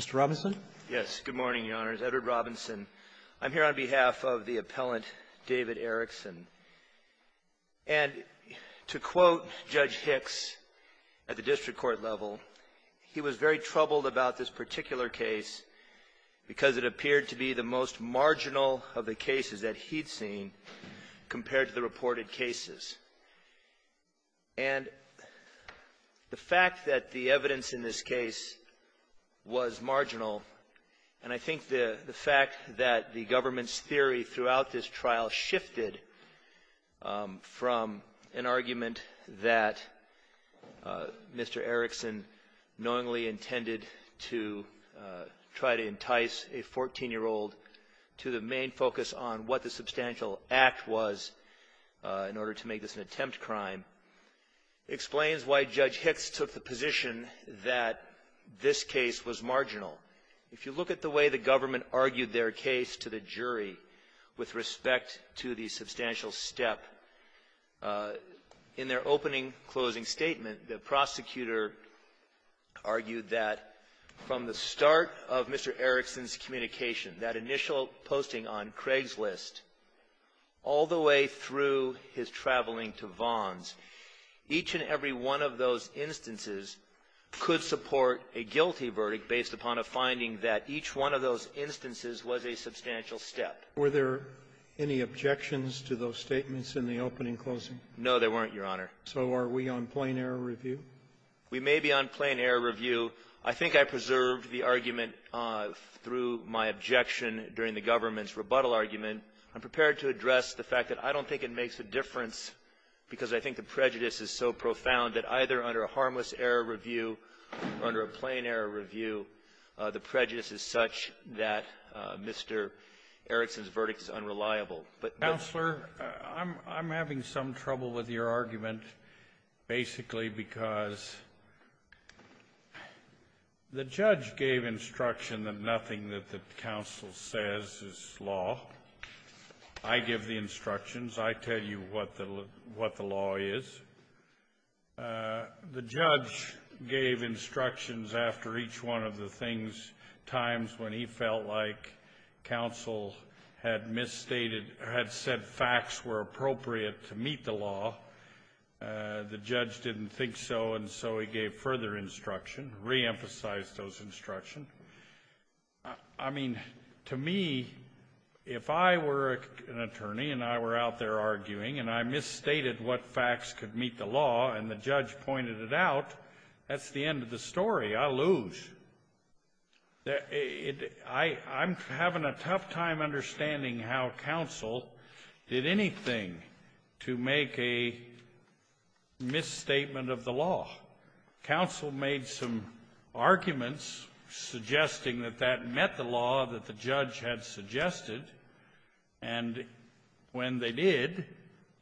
Mr. Robinson? Yes. Good morning, Your Honors. Edward Robinson. I'm here on behalf of the appellant, David Erickson. And to quote Judge Hicks at the district court level, he was very troubled about this particular case because it appeared to be the most marginal of the cases that he'd seen compared to the reported cases. And the fact that the evidence in this case was marginal, and I think the fact that the government's theory throughout this trial shifted from an argument that Mr. Erickson knowingly intended to try to entice a 14-year-old to the main focus on what the substantial act was in order to make this an attempt crime, explains why Judge Hicks took the position that this case was marginal. If you look at the way the government argued their case to the jury with respect to the substantial step, in their opening closing statement, the prosecutor argued that from the start of Mr. Erickson's communication, that initial posting on Craig's list, all the way through his traveling to Vons, each and every one of those instances could support a guilty verdict based upon a finding that each one of those instances was a substantial step. Were there any objections to those statements in the opening closing? No, there weren't, Your Honor. So are we on plain-error review? We may be on plain-error review. I think I preserved the argument through my objection during the government's rebuttal argument. I'm prepared to address the fact that I don't think it makes a difference because I think the prejudice is so profound that either under a harmless-error review or under a plain-error review, the prejudice is such that Mr. Erickson's verdict is unreliable. But the ---- Kennedy. Counselor, I'm having some trouble with your argument, basically because the judge gave instruction that nothing that the counsel says is law. I give the instructions. I tell you what the law is. The judge gave instructions after each one of the things, times when he felt like counsel had misstated or had said facts were appropriate to meet the law. The judge didn't think so, and so he gave further instruction, reemphasized those instructions. I mean, to me, if I were an attorney and I were out there arguing and I misstated what facts could meet the law and the judge pointed it out, that's the end of the story. I lose. I'm having a tough time understanding how counsel did anything to make a misstatement of the law. Counsel made some arguments suggesting that that met the law that the judge had suggested, and when they did,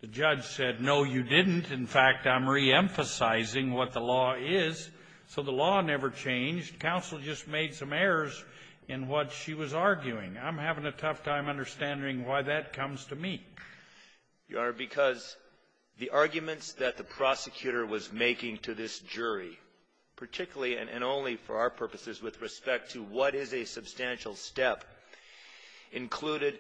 the judge said, no, you didn't. In fact, I'm reemphasizing what the law is. So the law never changed. Counsel just made some errors in what she was arguing. I'm having a tough time understanding why that comes to me. Your Honor, because the arguments that the prosecutor was making to this jury, particularly and only for our purposes with respect to what is a substantial step, included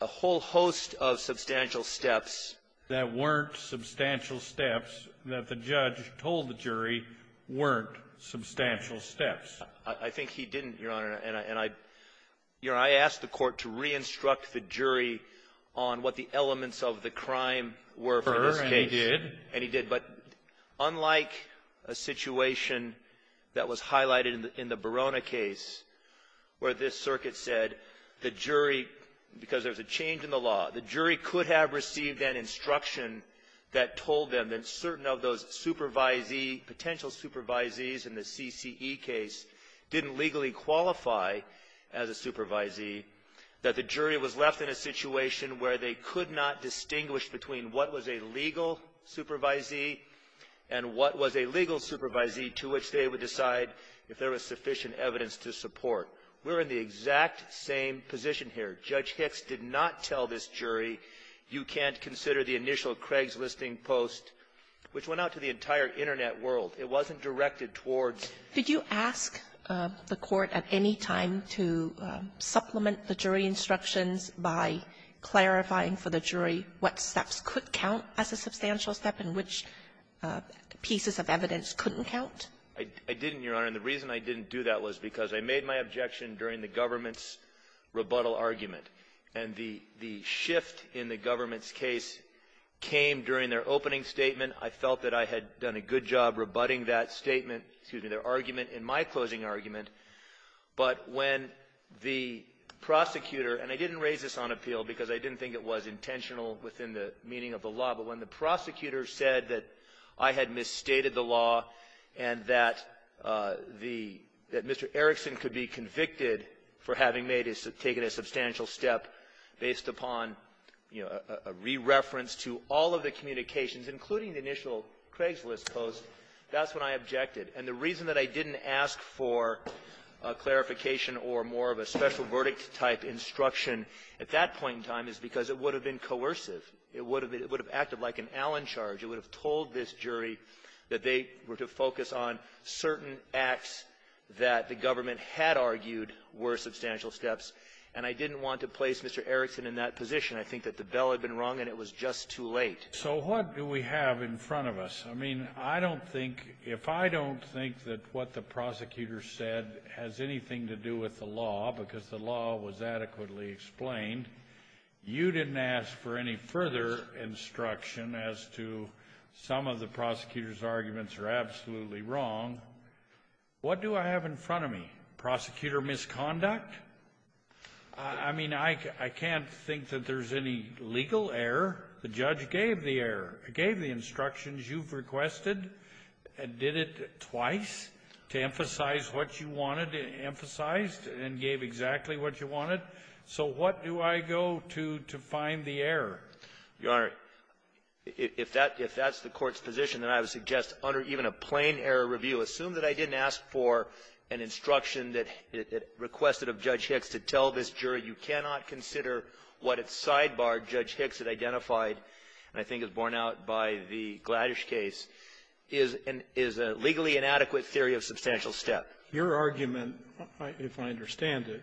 a whole host of substantial steps that weren't substantial steps that the judge told the jury weren't substantial steps. I think he didn't, Your Honor, and I asked the Court to re-instruct the jury on what the elements of the crime were for this case. And he did. But unlike a situation that was highlighted in the Barona case, where this circuit said the jury, because there was a change in the law, the jury could have received then instruction that told them that certain of those supervisee, potential supervisees in the CCE case didn't legally qualify as a supervisee, that the jury was left in a situation where they could not distinguish between what was a legal supervisee and what was a legal supervisee, to which they would decide if there was sufficient evidence to support. We're in the exact same position here. Judge Hicks did not tell this jury, you can't consider the initial Craigslisting post, which went out to the entire Internet world. It wasn't directed towards the jury. Did you ask the Court at any time to supplement the jury instructions by clarifying for the jury what steps could count as a substantial step and which pieces of evidence couldn't count? I didn't, Your Honor. And the reason I didn't do that was because I made my objection during the government's rebuttal argument. And the shift in the government's case came during their opening statement. I felt that I had done a good job rebutting that statement, excuse me, their argument in my closing argument. But when the prosecutor, and I didn't raise this on appeal because I didn't think it was intentional within the meaning of the law, but when the prosecutor said that I had misstated the law and that the Mr. Erickson could be convicted for having made taken a substantial step based upon, you know, a re-reference to all of the communications, including the initial Craigslist post, that's when I objected. And the reason that I didn't ask for a clarification or more of a special verdict type instruction at that point in time is because it would have been coercive. It would have acted like an Allen charge. It would have told this jury that they were to focus on certain acts that the government had argued were substantial steps. And I didn't want to place Mr. Erickson in that position. I think that the bell had been rung and it was just too late. So what do we have in front of us? I mean, I don't think, if I don't think that what the prosecutor said has anything to do with the law, because the law was adequately explained, you didn't ask for any further instruction as to some of the prosecutor's arguments are absolutely wrong. What do I have in front of me? Prosecutor misconduct? I mean, I can't think that there's any legal error. The judge gave the error, gave the instructions you've requested, did it twice to emphasize what you wanted emphasized and gave exactly what you wanted. So what do I go to to find the error? Your Honor, if that's the Court's position, then I would suggest under even a plain error review, assume that I didn't ask for an instruction that it requested of Judge Hicks to tell this jury you cannot consider what it sidebarred Judge Hicks had identified, and I think it was borne out by the Gladdish case, is a legally inadequate theory of substantial step. Your argument, if I understand it,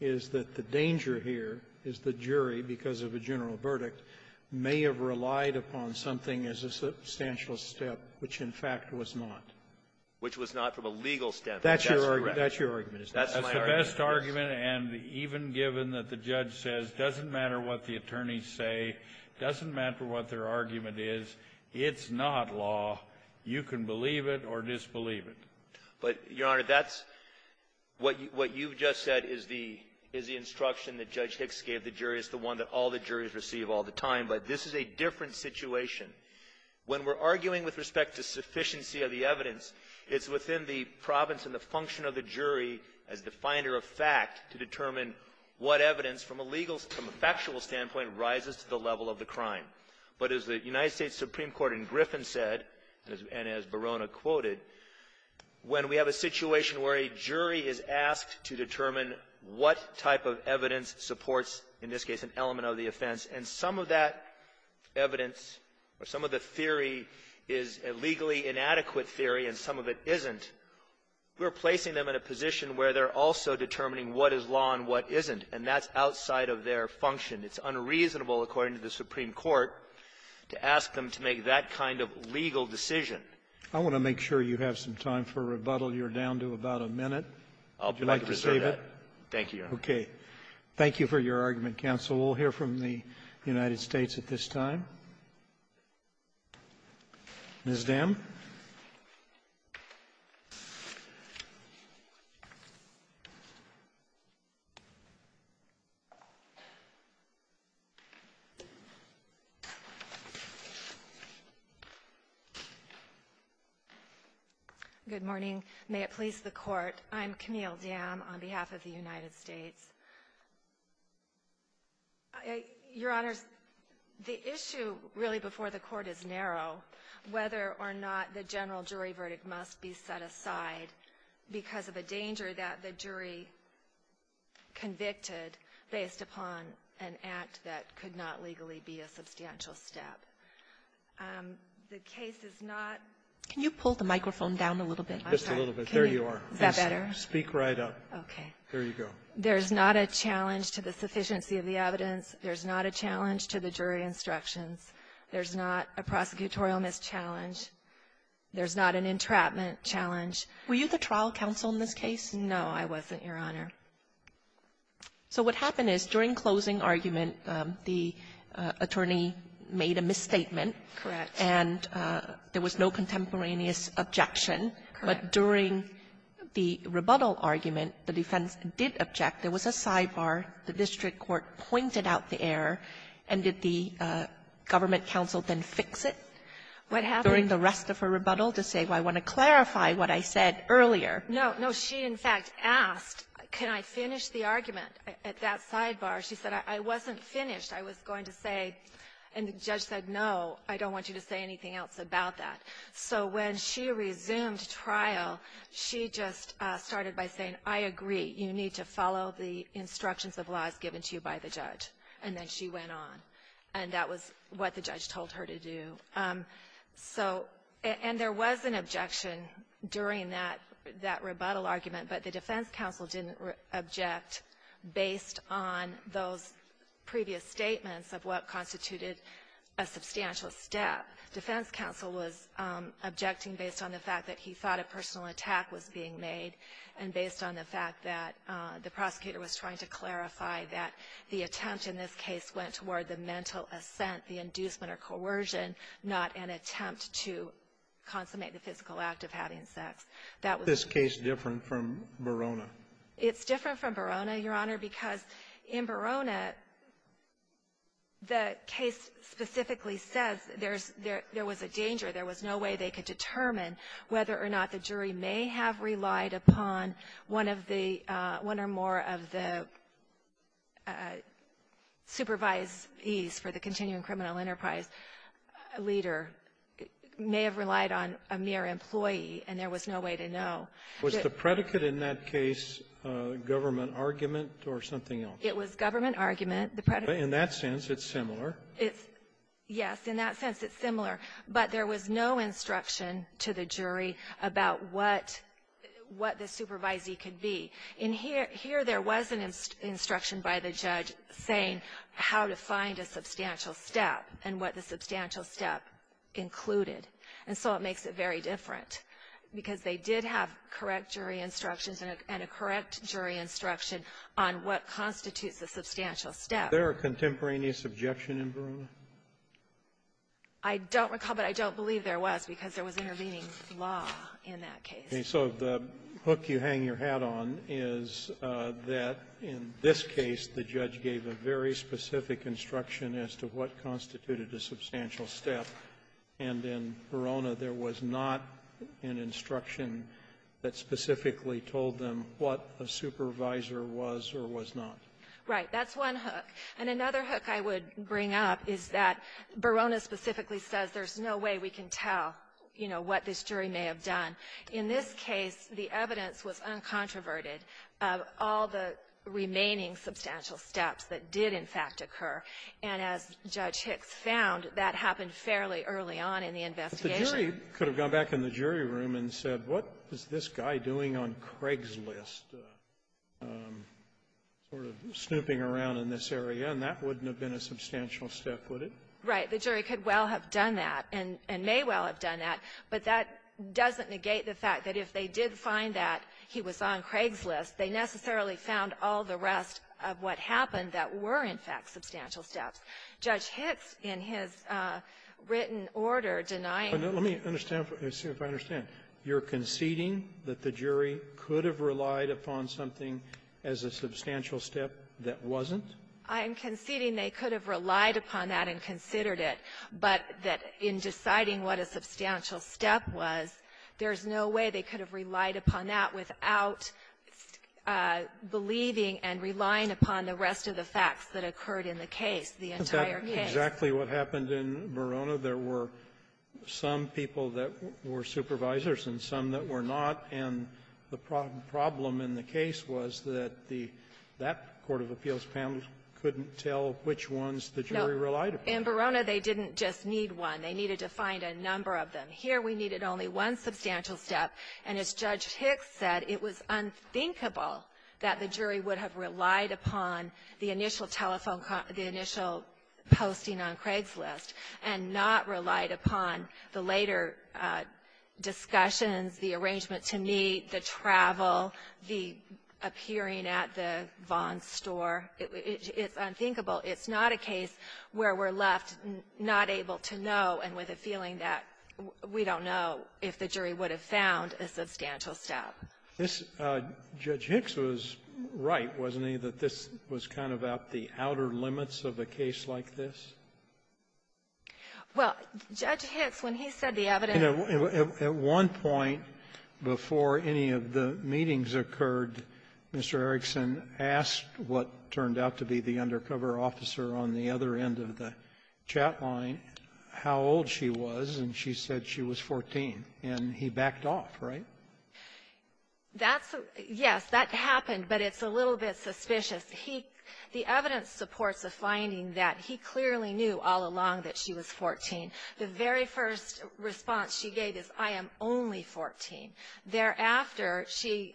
is that the danger here is the jury, because of a general verdict, may have relied upon something as a substantial step, which, in fact, was not. Which was not from a legal step. That's your argument. That's your argument. That's my argument. That's the best argument. And even given that the judge says it doesn't matter what the attorneys say, it doesn't matter what their argument is, it's not law. You can believe it or disbelieve it. But, Your Honor, that's what you've just said is the instruction that Judge Hicks gave the jury is the one that all the juries receive all the time. But this is a different situation. When we're arguing with respect to sufficiency of the evidence, it's within the province and the function of the jury as the finder of fact to determine what evidence, from a legal, from a factual standpoint, rises to the level of the crime. But as the United States Supreme Court in Griffin said, and as Barona quoted, when we have a situation where a jury is asked to determine what type of evidence supports, in this case, an element of the offense, and some of that evidence or some of the theory is a legally inadequate theory and some of it isn't, we're placing them in a position where they're also determining what is law and what isn't. And that's outside of their function. It's unreasonable, according to the Supreme Court, to ask them to make that kind of legal decision. I want to make sure you have some time for rebuttal. You're down to about a minute. Would you like to save it? Gannon, thank you, Your Honor. Roberts, thank you for your argument, counsel. We'll hear from the United States at this time. Ms. Dam. Good morning. May it please the Court, I'm Camille Dam on behalf of the United States. Your Honors, the issue really before the Court is narrow, whether or not the general jury verdict must be set aside because of a danger that the jury convicted based upon an act that could not legally be a substantial step. The case is not ---- Can you pull the microphone down a little bit? Just a little bit. There you are. Is that better? Speak right up. Okay. There you go. There's not a challenge to the sufficiency of the evidence. There's not a challenge to the jury instructions. There's not a prosecutorial mischallenge. There's not an entrapment challenge. Were you the trial counsel in this case? No, I wasn't, Your Honor. So what happened is, during closing argument, the attorney made a misstatement. Correct. And there was no contemporaneous objection. Correct. But during the rebuttal argument, the defense did object. There was a sidebar. The district court pointed out the error. And did the government counsel then fix it? What happened? During the rest of her rebuttal to say, well, I want to clarify what I said earlier. No. No. She, in fact, asked, can I finish the argument at that sidebar? She said, I wasn't finished. I was going to say, and the judge said, no, I don't want you to say anything else about that. So when she resumed trial, she just started by saying, I agree. You need to follow the instructions of laws given to you by the judge. And then she went on. And that was what the judge told her to do. So and there was an objection during that rebuttal argument, but the defense counsel didn't object based on those previous statements of what constituted a substantial step. The defense counsel was objecting based on the fact that he thought a personal attack was being made and based on the fact that the prosecutor was trying to clarify that the attempt in this case went toward the mental assent, the inducement or coercion, not an attempt to consummate the physical act of having sex. That was the case. This case is different from Verona. It's different from Verona, Your Honor, because in Verona, the case specifically says there was a danger, there was no way they could determine whether or not the jury may have relied upon one of the one or more of the supervisees for the continuing criminal enterprise leader, may have relied on a mere employee, and there was no way to know. Was the predicate in that case government argument or something else? It was government argument. In that sense, it's similar. It's yes. In that sense, it's similar. But there was no instruction to the jury about what the supervisee could be. In here, there was an instruction by the judge saying how to find a substantial step and what the substantial step included. And so it makes it very different, because they did have correct jury instructions and a correct jury instruction on what constitutes a substantial step. Is there a contemporaneous objection in Verona? I don't recall, but I don't believe there was, because there was intervening law in that case. Okay. So the hook you hang your hat on is that in this case, the judge gave a very specific instruction as to what constituted a substantial step, and in Verona, there was not an instruction that specifically told them what a supervisor was or was not. Right. That's one hook. And another hook I would bring up is that Verona specifically says there's no way we can tell, you know, what this jury may have done. In this case, the evidence was uncontroverted of all the remaining substantial steps that did, in fact, occur. And as Judge Hicks found, that happened fairly early on in the investigation. But the jury could have gone back in the jury room and said, what is this guy doing on Craigslist, sort of snooping around in this area? And that wouldn't have been a substantial step, would it? Right. The jury could well have done that and may well have done that. But that doesn't negate the fact that if they did find that he was on Craigslist, they necessarily found all the rest of what happened that were, in fact, substantial steps. Judge Hicks, in his written order, denying the jury was on Craigslist could have relied upon something as a substantial step that wasn't? I'm conceding they could have relied upon that and considered it. But that in deciding what a substantial step was, there's no way they could have relied upon that without believing and relying upon the rest of the facts that occurred in the case, the entire case. Isn't that exactly what happened in Verona? There were some people that were supervisors and some that were not. And the problem in the case was that the Court of Appeals panel couldn't tell which ones the jury relied upon. No. In Verona, they didn't just need one. They needed to find a number of them. Here, we needed only one substantial step. And as Judge Hicks said, it was unthinkable that the jury would have relied upon the initial telephone call or the initial posting on Craigslist and not relied upon the later discussions, the arrangement to meet, the travel, the appearing at the Vaughn store. It's unthinkable. It's not a case where we're left not able to know and with a feeling that we don't know if the jury would have found a substantial step. This Judge Hicks was right, wasn't he, that this was kind of at the outer limits of a case like this? Well, Judge Hicks, when he said the evidence of the chat line, how old she was, and she said she was 14, and he backed off, right? That's a yes. That happened, but it's a little bit suspicious. He the evidence supports a finding that he clearly knew that she was 14, and he backed That happened, but it's a little bit suspicious. knew all along that she was 14. The very first response she gave is, I am only 14. Thereafter, she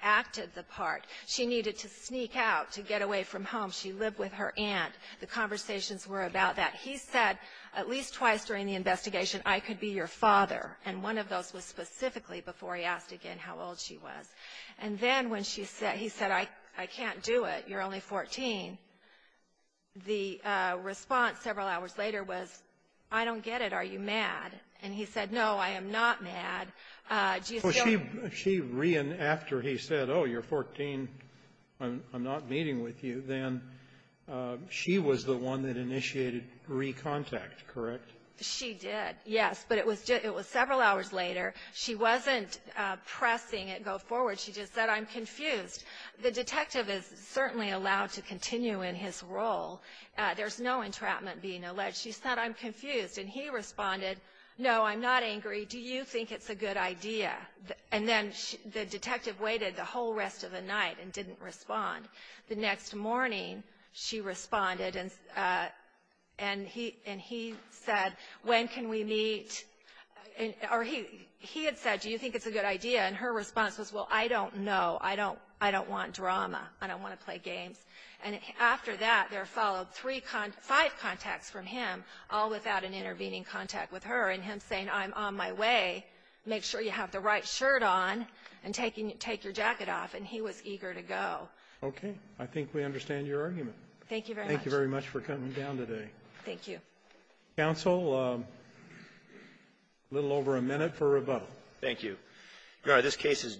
acted the part. She needed to sneak out to get away from home. She lived with her aunt. The conversations were about that. He said, at least twice during the investigation, I could be your father, and one of those was specifically before he asked again how old she was. And then when he said, I can't do it. You're only 14. The response several hours later was, I don't get it. Are you mad? And he said, no, I am not mad. Do you still ---- So she ran after he said, oh, you're 14, I'm not meeting with you. Then she was the one that initiated re-contact, correct? She did, yes. But it was several hours later. She wasn't pressing it go forward. She just said, I'm confused. The detective is certainly allowed to continue in his role. There's no entrapment being alleged. She said, I'm confused. And he responded, no, I'm not angry. Do you think it's a good idea? And then the detective waited the whole rest of the night and didn't respond. The next morning, she responded, and he said, when can we meet? Or he had said, do you think it's a good idea? And her response was, well, I don't know. I don't want drama. I don't want to play games. And after that, there followed five contacts from him, all without an intervening contact with her. And him saying, I'm on my way. Make sure you have the right shirt on and take your jacket off. And he was eager to go. Okay. I think we understand your argument. Thank you very much. Thank you very much for coming down today. Thank you. Counsel, a little over a minute for rebuttal. Thank you. Your Honor, this case is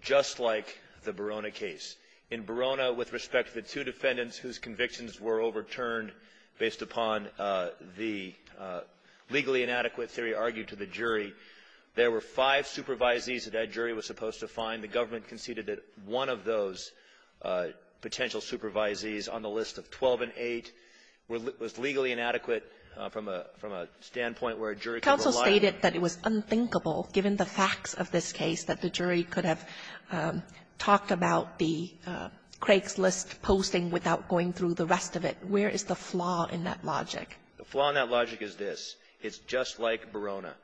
just like the Barona case. In Barona, with respect to the two defendants whose convictions were overturned based upon the legally inadequate theory argued to the jury, there were five supervisees that that jury was supposed to find. The government conceded that one of those potential supervisees on the list of 12 and 8 was legally inadequate from a standpoint where a jury could rely on them. And it was unthinkable, given the facts of this case, that the jury could have talked about the Craigslist posting without going through the rest of it. Where is the flaw in that logic? The flaw in that logic is this. It's just like Barona.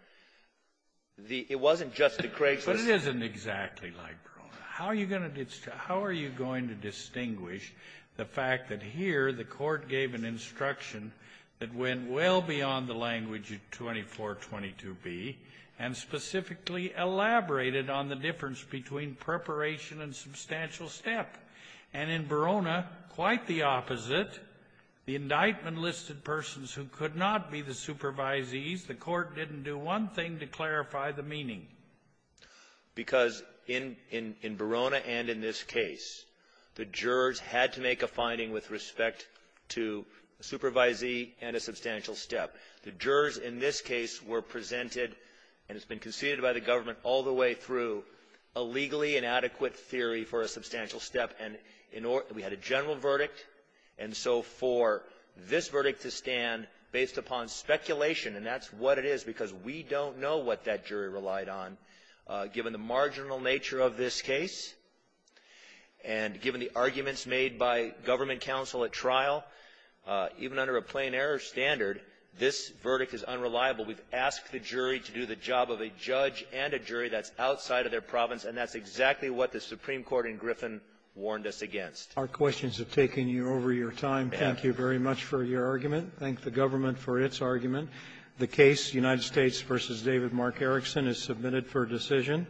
It wasn't just the Craigslist. But it isn't exactly like Barona. How are you going to distinguish the fact that here the Court gave an instruction that went well beyond the language of 2422b and specifically elaborated on the difference between preparation and substantial step? And in Barona, quite the opposite. The indictment listed persons who could not be the supervisees. The Court didn't do one thing to clarify the meaning. Because in Barona and in this case, the jurors had to make a finding with respect to a supervisee and a substantial step. The jurors in this case were presented, and it's been conceded by the government all the way through, a legally inadequate theory for a substantial step. And we had a general verdict. And so for this verdict to stand, based upon speculation, and that's what it is because we don't know what that jury relied on, given the marginal nature of this case, and given the arguments made by government counsel at trial, even under a plain error standard, this verdict is unreliable. We've asked the jury to do the job of a judge and a jury that's outside of their province, and that's exactly what the Supreme Court in Griffin warned us against. Our questions have taken you over your time. Thank you very much for your argument. Thank the government for its argument. The case, United States v. David Mark Erickson, is submitted for decision.